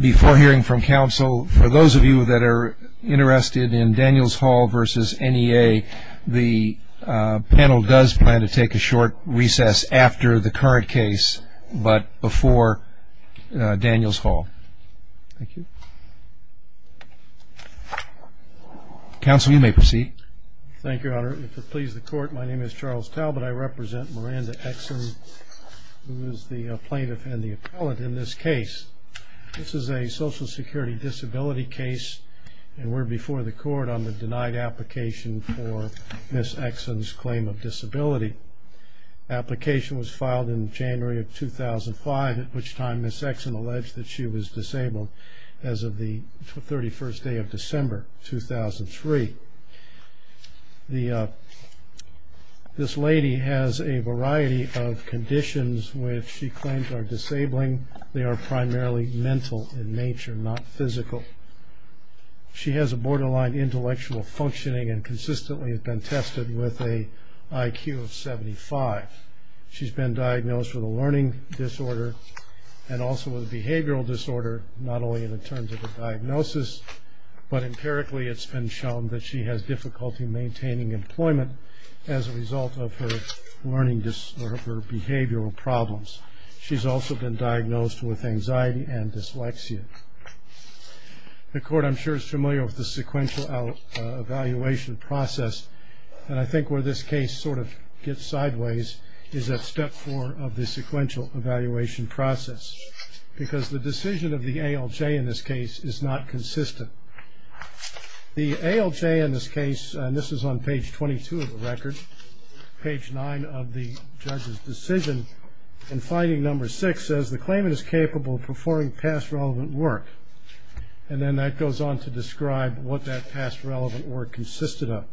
Before hearing from counsel, for those of you that are interested in Daniels Hall versus NEA, the panel does plan to take a short recess after the current case, but before Daniels Hall. Thank you. Counsel, you may proceed. Thank you, Your Honor. My name is Charles Talbot. I represent Miranda Eksund, who is the plaintiff and the appellate in this case. This is a Social Security disability case, and we're before the court on the denied application for Ms. Eksund's claim of disability. The application was filed in January of 2005, at which time Ms. Eksund alleged that she was disabled as of the 31st day of December, 2003. This lady has a variety of conditions which she claims are disabling. They are primarily mental in nature, not physical. She has a borderline intellectual functioning and consistently has been tested with an IQ of 75. She's been diagnosed with a learning disorder and also a behavioral disorder, not only in terms of the diagnosis, but empirically it's been shown that she has difficulty maintaining employment as a result of her behavioral problems. She's also been diagnosed with anxiety and dyslexia. The court, I'm sure, is familiar with the sequential evaluation process, and I think where this case sort of gets sideways is at step four of the sequential evaluation process, because the decision of the ALJ in this case is not consistent. The ALJ in this case, and this is on page 22 of the record, page nine of the judge's decision, in finding number six says the claimant is capable of performing past relevant work, and then that goes on to describe what that past relevant work consisted of.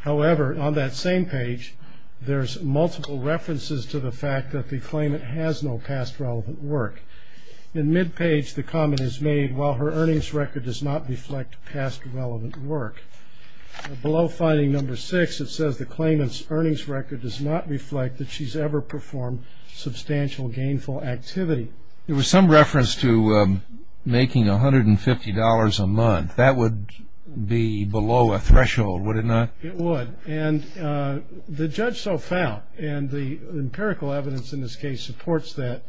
However, on that same page, there's multiple references to the fact that the claimant has no past relevant work. In mid-page, the comment is made, while her earnings record does not reflect past relevant work. Below finding number six, it says the claimant's earnings record does not reflect that she's ever performed substantial gainful activity. There was some reference to making $150 a month. That would be below a threshold, would it not? It would, and the judge so found, and the empirical evidence in this case supports that,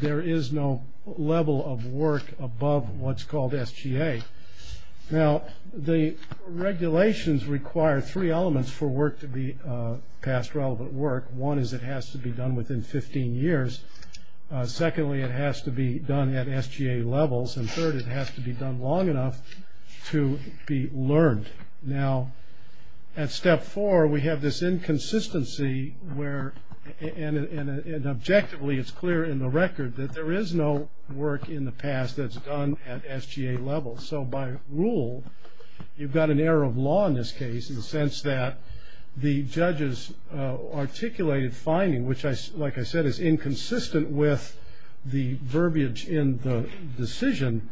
there is no level of work above what's called SGA. Now, the regulations require three elements for work to be past relevant work. One is it has to be done within 15 years. Secondly, it has to be done at SGA levels, and third, it has to be done long enough to be learned. Now, at step four, we have this inconsistency where, and objectively it's clear in the record, that there is no work in the past that's done at SGA levels. So, by rule, you've got an error of law in this case in the sense that the judge's articulated finding, which, like I said, is inconsistent with the verbiage in the decision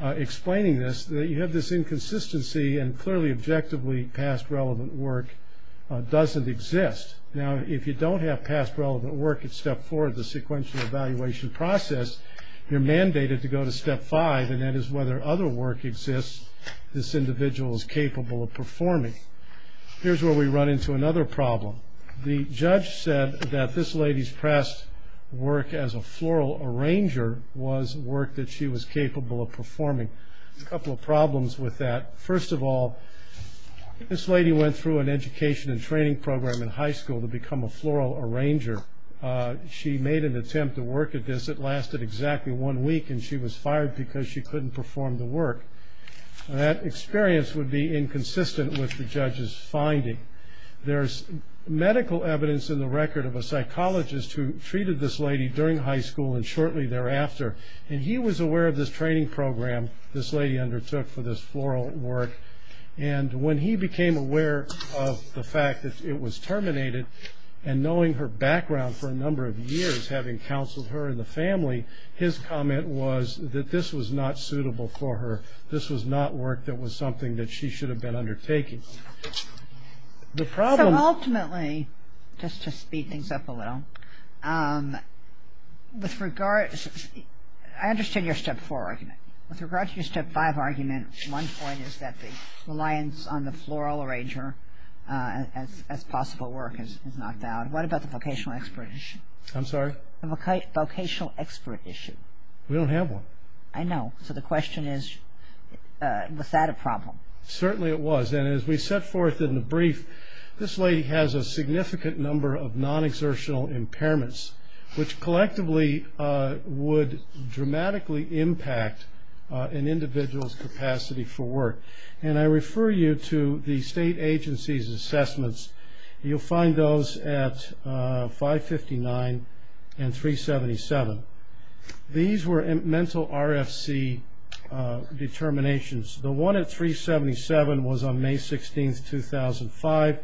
explaining this, that you have this inconsistency, and clearly, objectively, past relevant work doesn't exist. Now, if you don't have past relevant work at step four of the sequential evaluation process, you're mandated to go to step five, and that is whether other work exists this individual is capable of performing. Here's where we run into another problem. The judge said that this lady's past work as a floral arranger was work that she was capable of performing. A couple of problems with that. First of all, this lady went through an education and training program in high school to become a floral arranger. She made an attempt to work at this. It lasted exactly one week, and she was fired because she couldn't perform the work. That experience would be inconsistent with the judge's finding. There's medical evidence in the record of a psychologist who treated this lady during high school and shortly thereafter, and he was aware of this training program this lady undertook for this floral work, and when he became aware of the fact that it was terminated, and knowing her background for a number of years, having counseled her and the family, his comment was that this was not suitable for her. This was not work that was something that she should have been undertaking. So ultimately, just to speed things up a little, I understand your step four argument. With regard to your step five argument, one point is that the reliance on the floral arranger as possible work is not valid. What about the vocational expert issue? I'm sorry? The vocational expert issue. We don't have one. I know. So the question is, was that a problem? Certainly it was. And as we set forth in the brief, this lady has a significant number of non-exertional impairments, which collectively would dramatically impact an individual's capacity for work. And I refer you to the state agency's assessments. You'll find those at 559 and 377. These were mental RFC determinations. The one at 377 was on May 16, 2005.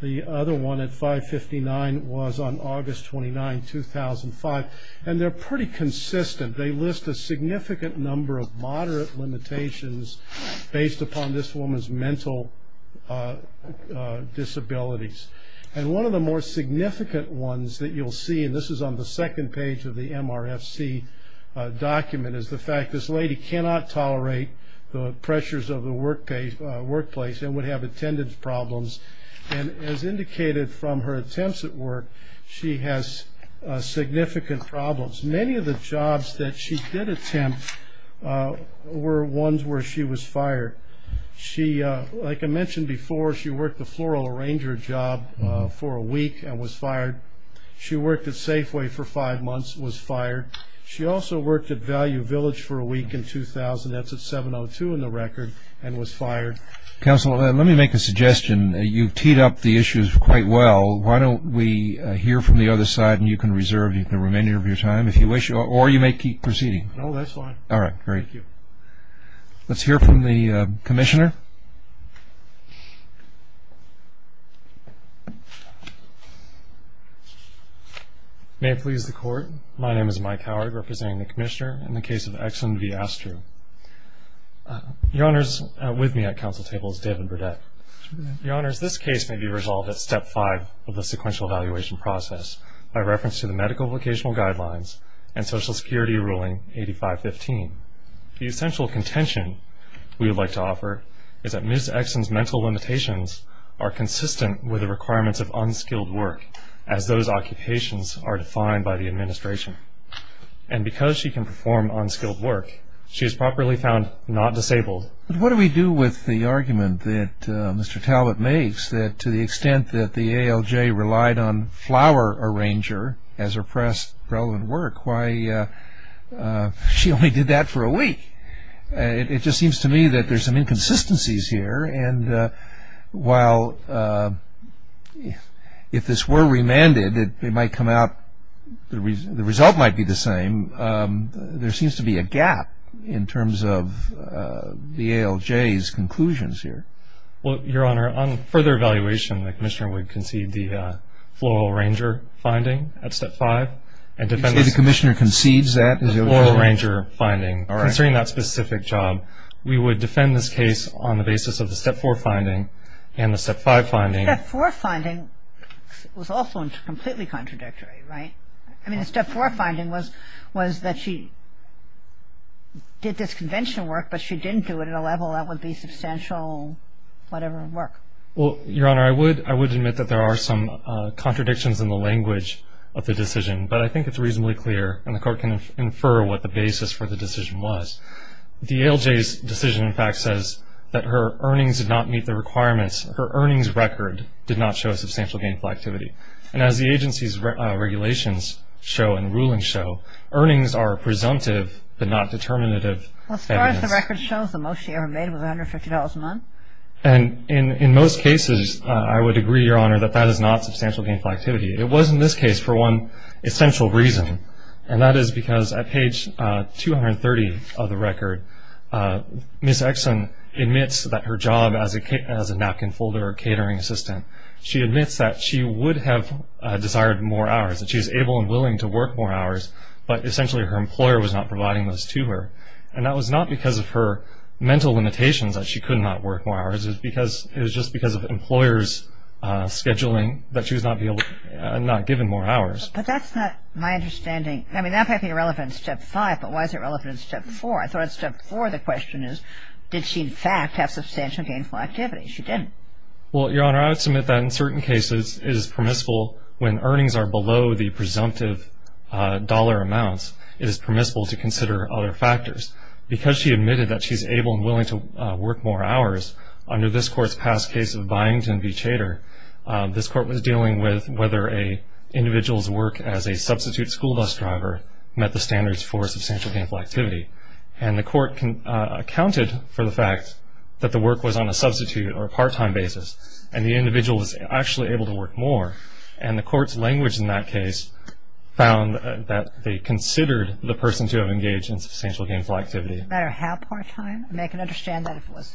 The other one at 559 was on August 29, 2005. And they're pretty consistent. They list a significant number of moderate limitations based upon this woman's mental disabilities. And one of the more significant ones that you'll see, and this is on the second page of the MRFC document, is the fact this lady cannot tolerate the pressures of the workplace and would have attendance problems. And as indicated from her attempts at work, she has significant problems. Many of the jobs that she did attempt were ones where she was fired. Like I mentioned before, she worked the floral arranger job for a week and was fired. She worked at Safeway for five months and was fired. She also worked at Value Village for a week in 2000. That's at 702 in the record, and was fired. Counsel, let me make a suggestion. You've teed up the issues quite well. Why don't we hear from the other side, and you can reserve the remainder of your time if you wish, or you may keep proceeding. No, that's fine. All right, great. Thank you. Let's hear from the Commissioner. May it please the Court, my name is Mike Howard, representing the Commissioner in the case of Exon v. Astru. Your Honors, with me at Council table is David Burdette. Your Honors, this case may be resolved at Step 5 of the sequential evaluation process by reference to the medical vocational guidelines and Social Security ruling 8515. The essential contention we would like to offer is that Ms. Exon's mental limitations are consistent with the requirements of unskilled work, as those occupations are defined by the administration. And because she can perform unskilled work, she is properly found not disabled. What do we do with the argument that Mr. Talbot makes that to the extent that the ALJ relied on It just seems to me that there's some inconsistencies here. And while if this were remanded, it might come out, the result might be the same. There seems to be a gap in terms of the ALJ's conclusions here. Well, Your Honor, on further evaluation, the Commissioner would concede the floral ranger finding at Step 5. You say the Commissioner concedes that? The floral ranger finding. All right. Considering that specific job, we would defend this case on the basis of the Step 4 finding and the Step 5 finding. The Step 4 finding was also completely contradictory, right? I mean, the Step 4 finding was that she did this conventional work, but she didn't do it at a level that would be substantial whatever work. Well, Your Honor, I would admit that there are some contradictions in the language of the decision, but I think it's reasonably clear, and the Court can infer what the basis for the decision was. The ALJ's decision, in fact, says that her earnings did not meet the requirements. Her earnings record did not show substantial gainful activity. And as the agency's regulations show and rulings show, earnings are presumptive but not determinative. As far as the record shows, the most she ever made was $150 a month. And in most cases, I would agree, Your Honor, that that is not substantial gainful activity. It was in this case for one essential reason, and that is because at page 230 of the record, Ms. Exon admits that her job as a napkin folder or catering assistant, she admits that she would have desired more hours, that she was able and willing to work more hours, but essentially her employer was not providing those to her. And that was not because of her mental limitations that she could not work more hours. It was just because of employers' scheduling that she was not given more hours. But that's not my understanding. I mean, that might be irrelevant in Step 5, but why is it relevant in Step 4? I thought at Step 4 the question is, did she, in fact, have substantial gainful activity? She didn't. Well, Your Honor, I would submit that in certain cases it is permissible when earnings are below the presumptive dollar amounts, it is permissible to consider other factors. Because she admitted that she's able and willing to work more hours, under this Court's past case of Byington v. Chater, this Court was dealing with whether an individual's work as a substitute school bus driver met the standards for substantial gainful activity. And the Court accounted for the fact that the work was on a substitute or a part-time basis, and the individual was actually able to work more. And the Court's language in that case found that they considered the person to have engaged in substantial gainful activity. No matter how part-time? I mean, I can understand that if it was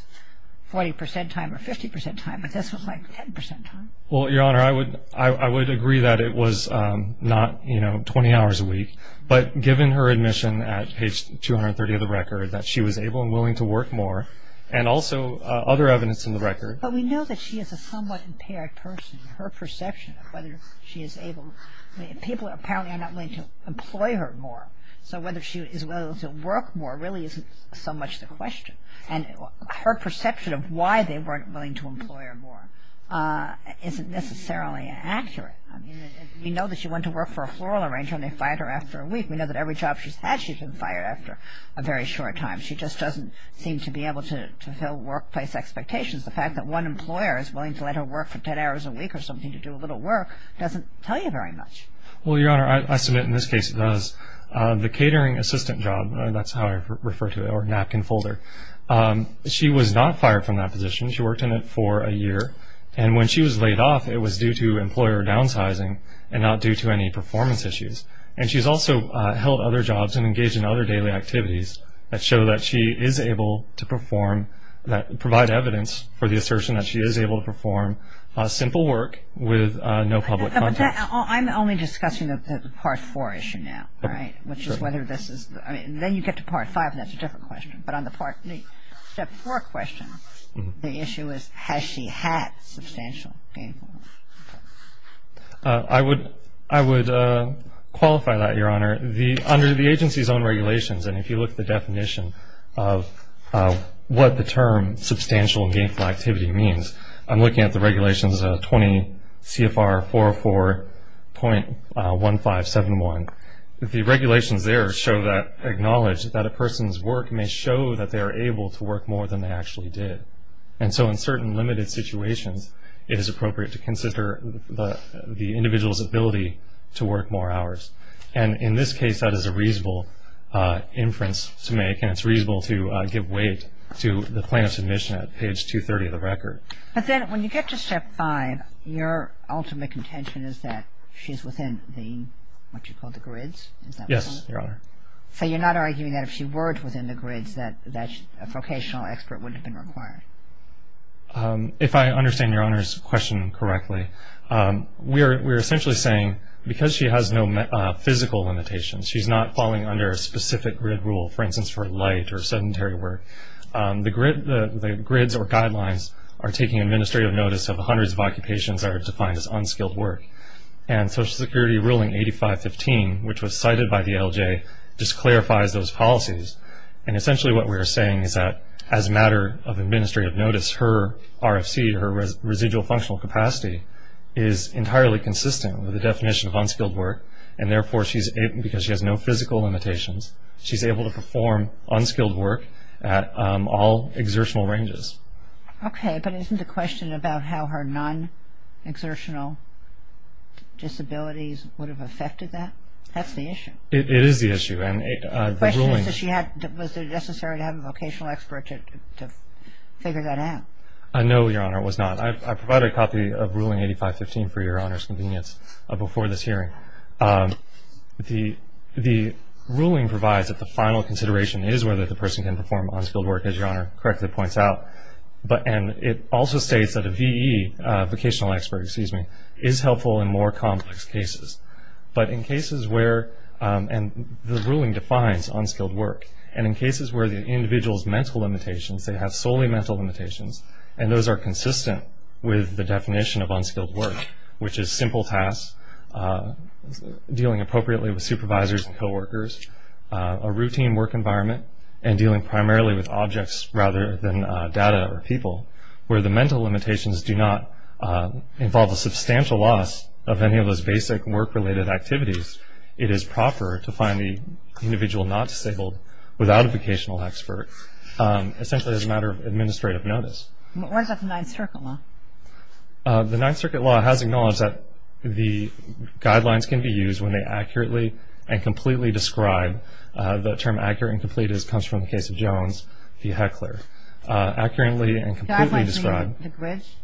40 percent time or 50 percent time, but this was like 10 percent time. Well, Your Honor, I would agree that it was not, you know, 20 hours a week. But given her admission at page 230 of the record that she was able and willing to work more, and also other evidence in the record. But we know that she is a somewhat impaired person. Her perception of whether she is able, people apparently are not willing to employ her more. So whether she is willing to work more really isn't so much the question. And her perception of why they weren't willing to employ her more isn't necessarily accurate. I mean, we know that she went to work for a floral arranger and they fired her after a week. We know that every job she's had, she's been fired after a very short time. She just doesn't seem to be able to fulfill workplace expectations. The fact that one employer is willing to let her work for 10 hours a week or something to do a little work doesn't tell you very much. Well, Your Honor, I submit in this case it does. The catering assistant job, that's how I refer to it, or napkin folder, she was not fired from that position. She worked in it for a year. And when she was laid off, it was due to employer downsizing and not due to any performance issues. And she's also held other jobs and engaged in other daily activities that show that she is able to perform, provide evidence for the assertion that she is able to perform simple work with no public contact. I'm only discussing the Part 4 issue now, right, which is whether this is the – I mean, then you get to Part 5 and that's a different question. But on the Step 4 question, the issue is has she had substantial gainful work? I would qualify that, Your Honor. The – under the agency's own regulations, and if you look at the definition of what the term substantial gainful activity means, I'm looking at the regulations 20 CFR 404.1571. The regulations there show that – acknowledge that a person's work may show that they are able to work more than they actually did. And so in certain limited situations, it is appropriate to consider the individual's ability to work more hours. And in this case, that is a reasonable inference to make, and it's reasonable to give weight to the plaintiff's admission at page 230 of the record. But then when you get to Step 5, your ultimate contention is that she's within the – what you call the grids? Yes, Your Honor. So you're not arguing that if she were within the grids that a vocational expert wouldn't have been required? If I understand Your Honor's question correctly, we are essentially saying because she has no physical limitations, she's not falling under a specific grid rule, for instance, for light or sedentary work. The grids or guidelines are taking administrative notice of hundreds of occupations that are defined as unskilled work. And Social Security ruling 8515, which was cited by the LJ, just clarifies those policies. And essentially what we are saying is that as a matter of administrative notice, her RFC, her residual functional capacity, is entirely consistent with the definition of unskilled work. And therefore, because she has no physical limitations, she's able to perform unskilled work at all exertional ranges. Okay, but isn't the question about how her non-exertional disabilities would have affected that? That's the issue. It is the issue. Was it necessary to have a vocational expert to figure that out? No, Your Honor, it was not. I provided a copy of ruling 8515 for Your Honor's convenience before this hearing. The ruling provides that the final consideration is whether the person can perform unskilled work, as Your Honor correctly points out. And it also states that a VE, vocational expert, excuse me, is helpful in more complex cases. But in cases where, and the ruling defines unskilled work, and in cases where the individual's mental limitations, they have solely mental limitations, and those are consistent with the definition of unskilled work, which is simple tasks, dealing appropriately with supervisors and coworkers, a routine work environment, and dealing primarily with objects rather than data or people, where the mental limitations do not involve a substantial loss of any of those basic work-related activities, it is proper to find the individual not disabled without a vocational expert, essentially as a matter of administrative notice. What about the Ninth Circuit law? The Ninth Circuit law has acknowledged that the guidelines can be used when they accurately and completely describe, the term accurate and complete comes from the case of Jones v. Heckler. Guidelines mean the grids?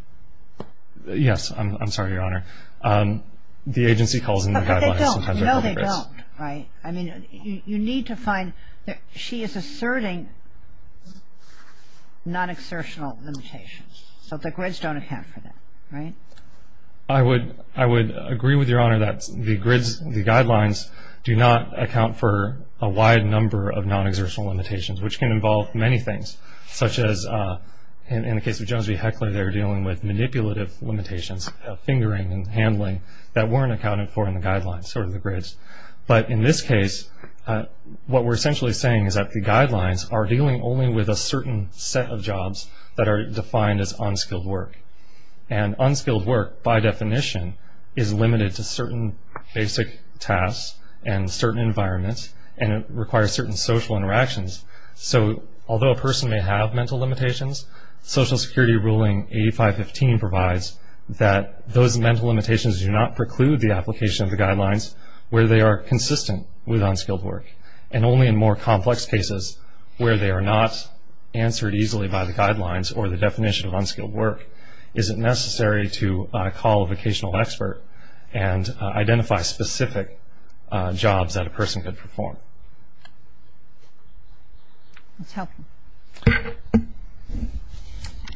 Yes. I'm sorry, Your Honor. The agency calls them the guidelines. But they don't. No, they don't. Right. I mean, you need to find, she is asserting non-exertional limitations. So the grids don't account for that, right? I would agree with Your Honor that the grids, the guidelines, do not account for a wide number of non-exertional limitations, which can involve many things, such as, in the case of Jones v. Heckler, they're dealing with manipulative limitations, fingering and handling, that weren't accounted for in the guidelines or the grids. But in this case, what we're essentially saying is that the guidelines are dealing only with a certain set of jobs that are defined as unskilled work. And unskilled work, by definition, is limited to certain basic tasks and certain environments, and it requires certain social interactions. So although a person may have mental limitations, Social Security ruling 8515 provides that those mental limitations do not preclude the application of the guidelines where they are consistent with unskilled work, and only in more complex cases where they are not answered easily by the guidelines or the definition of unskilled work is it necessary to call a vocational expert and identify specific jobs that a person could perform. That's helpful.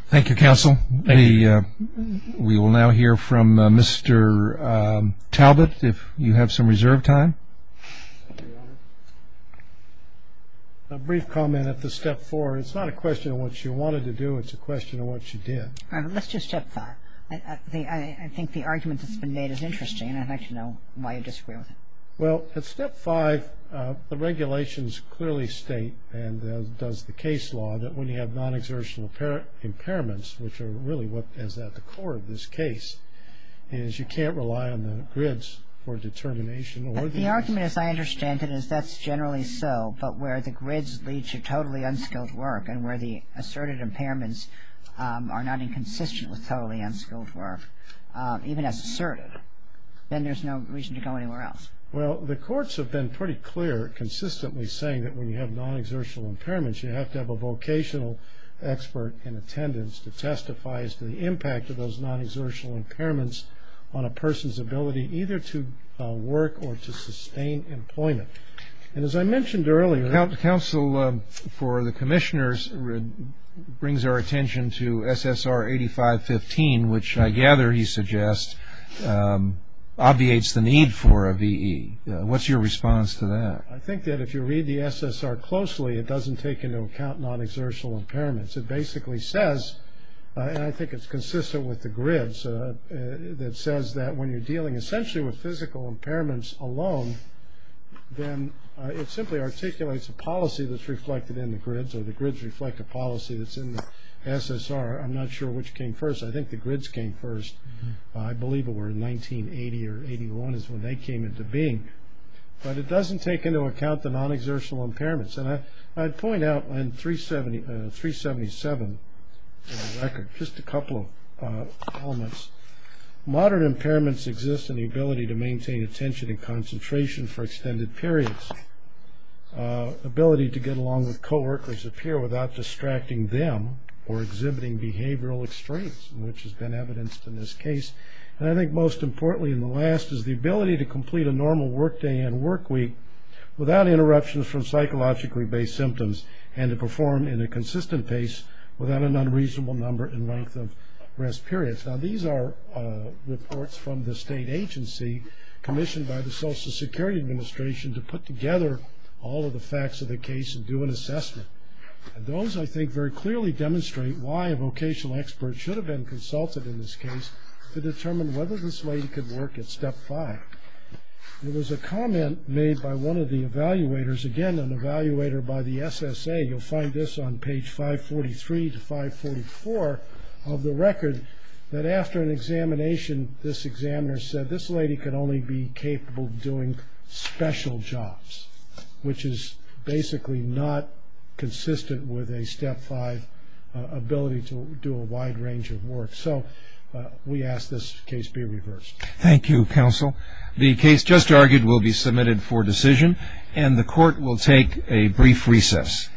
Thank you, Counsel. We will now hear from Mr. Talbot if you have some reserve time. A brief comment at the step four. It's not a question of what you wanted to do, it's a question of what you did. Let's do step five. I think the argument that's been made is interesting, and I'd like to know why you disagree with it. Well, at step five, the regulations clearly state and does the case law that when you have non-exertional impairments, which are really what is at the core of this case, is you can't rely on the grids for determination. The argument, as I understand it, is that's generally so, but where the grids lead to totally unskilled work and where the asserted impairments are not inconsistent with totally unskilled work, even as asserted, then there's no reason to go anywhere else. Well, the courts have been pretty clear consistently saying that when you have non-exertional impairments you have to have a vocational expert in attendance to testify as to the impact of those non-exertional impairments on a person's ability either to work or to sustain employment. And as I mentioned earlier... The counsel for the commissioners brings our attention to SSR 8515, which I gather he suggests obviates the need for a VE. What's your response to that? I think that if you read the SSR closely, it doesn't take into account non-exertional impairments. It basically says, and I think it's consistent with the grids, that says that when you're dealing essentially with physical impairments alone, then it simply articulates a policy that's reflected in the grids, or the grids reflect a policy that's in the SSR. I'm not sure which came first. I think the grids came first. I believe it were in 1980 or 81 is when they came into being. But it doesn't take into account the non-exertional impairments. And I'd point out in 377, for the record, just a couple of elements. Modern impairments exist in the ability to maintain attention and concentration for extended periods, ability to get along with co-workers, a peer, without distracting them or exhibiting behavioral extremes, which has been evidenced in this case. And I think most importantly in the last is the ability to complete a normal work day and work week without interruptions from psychologically-based symptoms and to perform in a consistent pace without an unreasonable number and length of rest periods. Now, these are reports from the state agency commissioned by the Social Security Administration to put together all of the facts of the case and do an assessment. And those, I think, very clearly demonstrate why a vocational expert should have been consulted in this case to determine whether this lady could work at Step 5. There was a comment made by one of the evaluators, again, an evaluator by the SSA. You'll find this on page 543 to 544 of the record, that after an examination, this examiner said this lady could only be capable of doing special jobs, which is basically not consistent with a Step 5 ability to do a wide range of work. So we ask this case be reversed. Thank you, counsel. The case just argued will be submitted for decision, and the court will take a brief recess.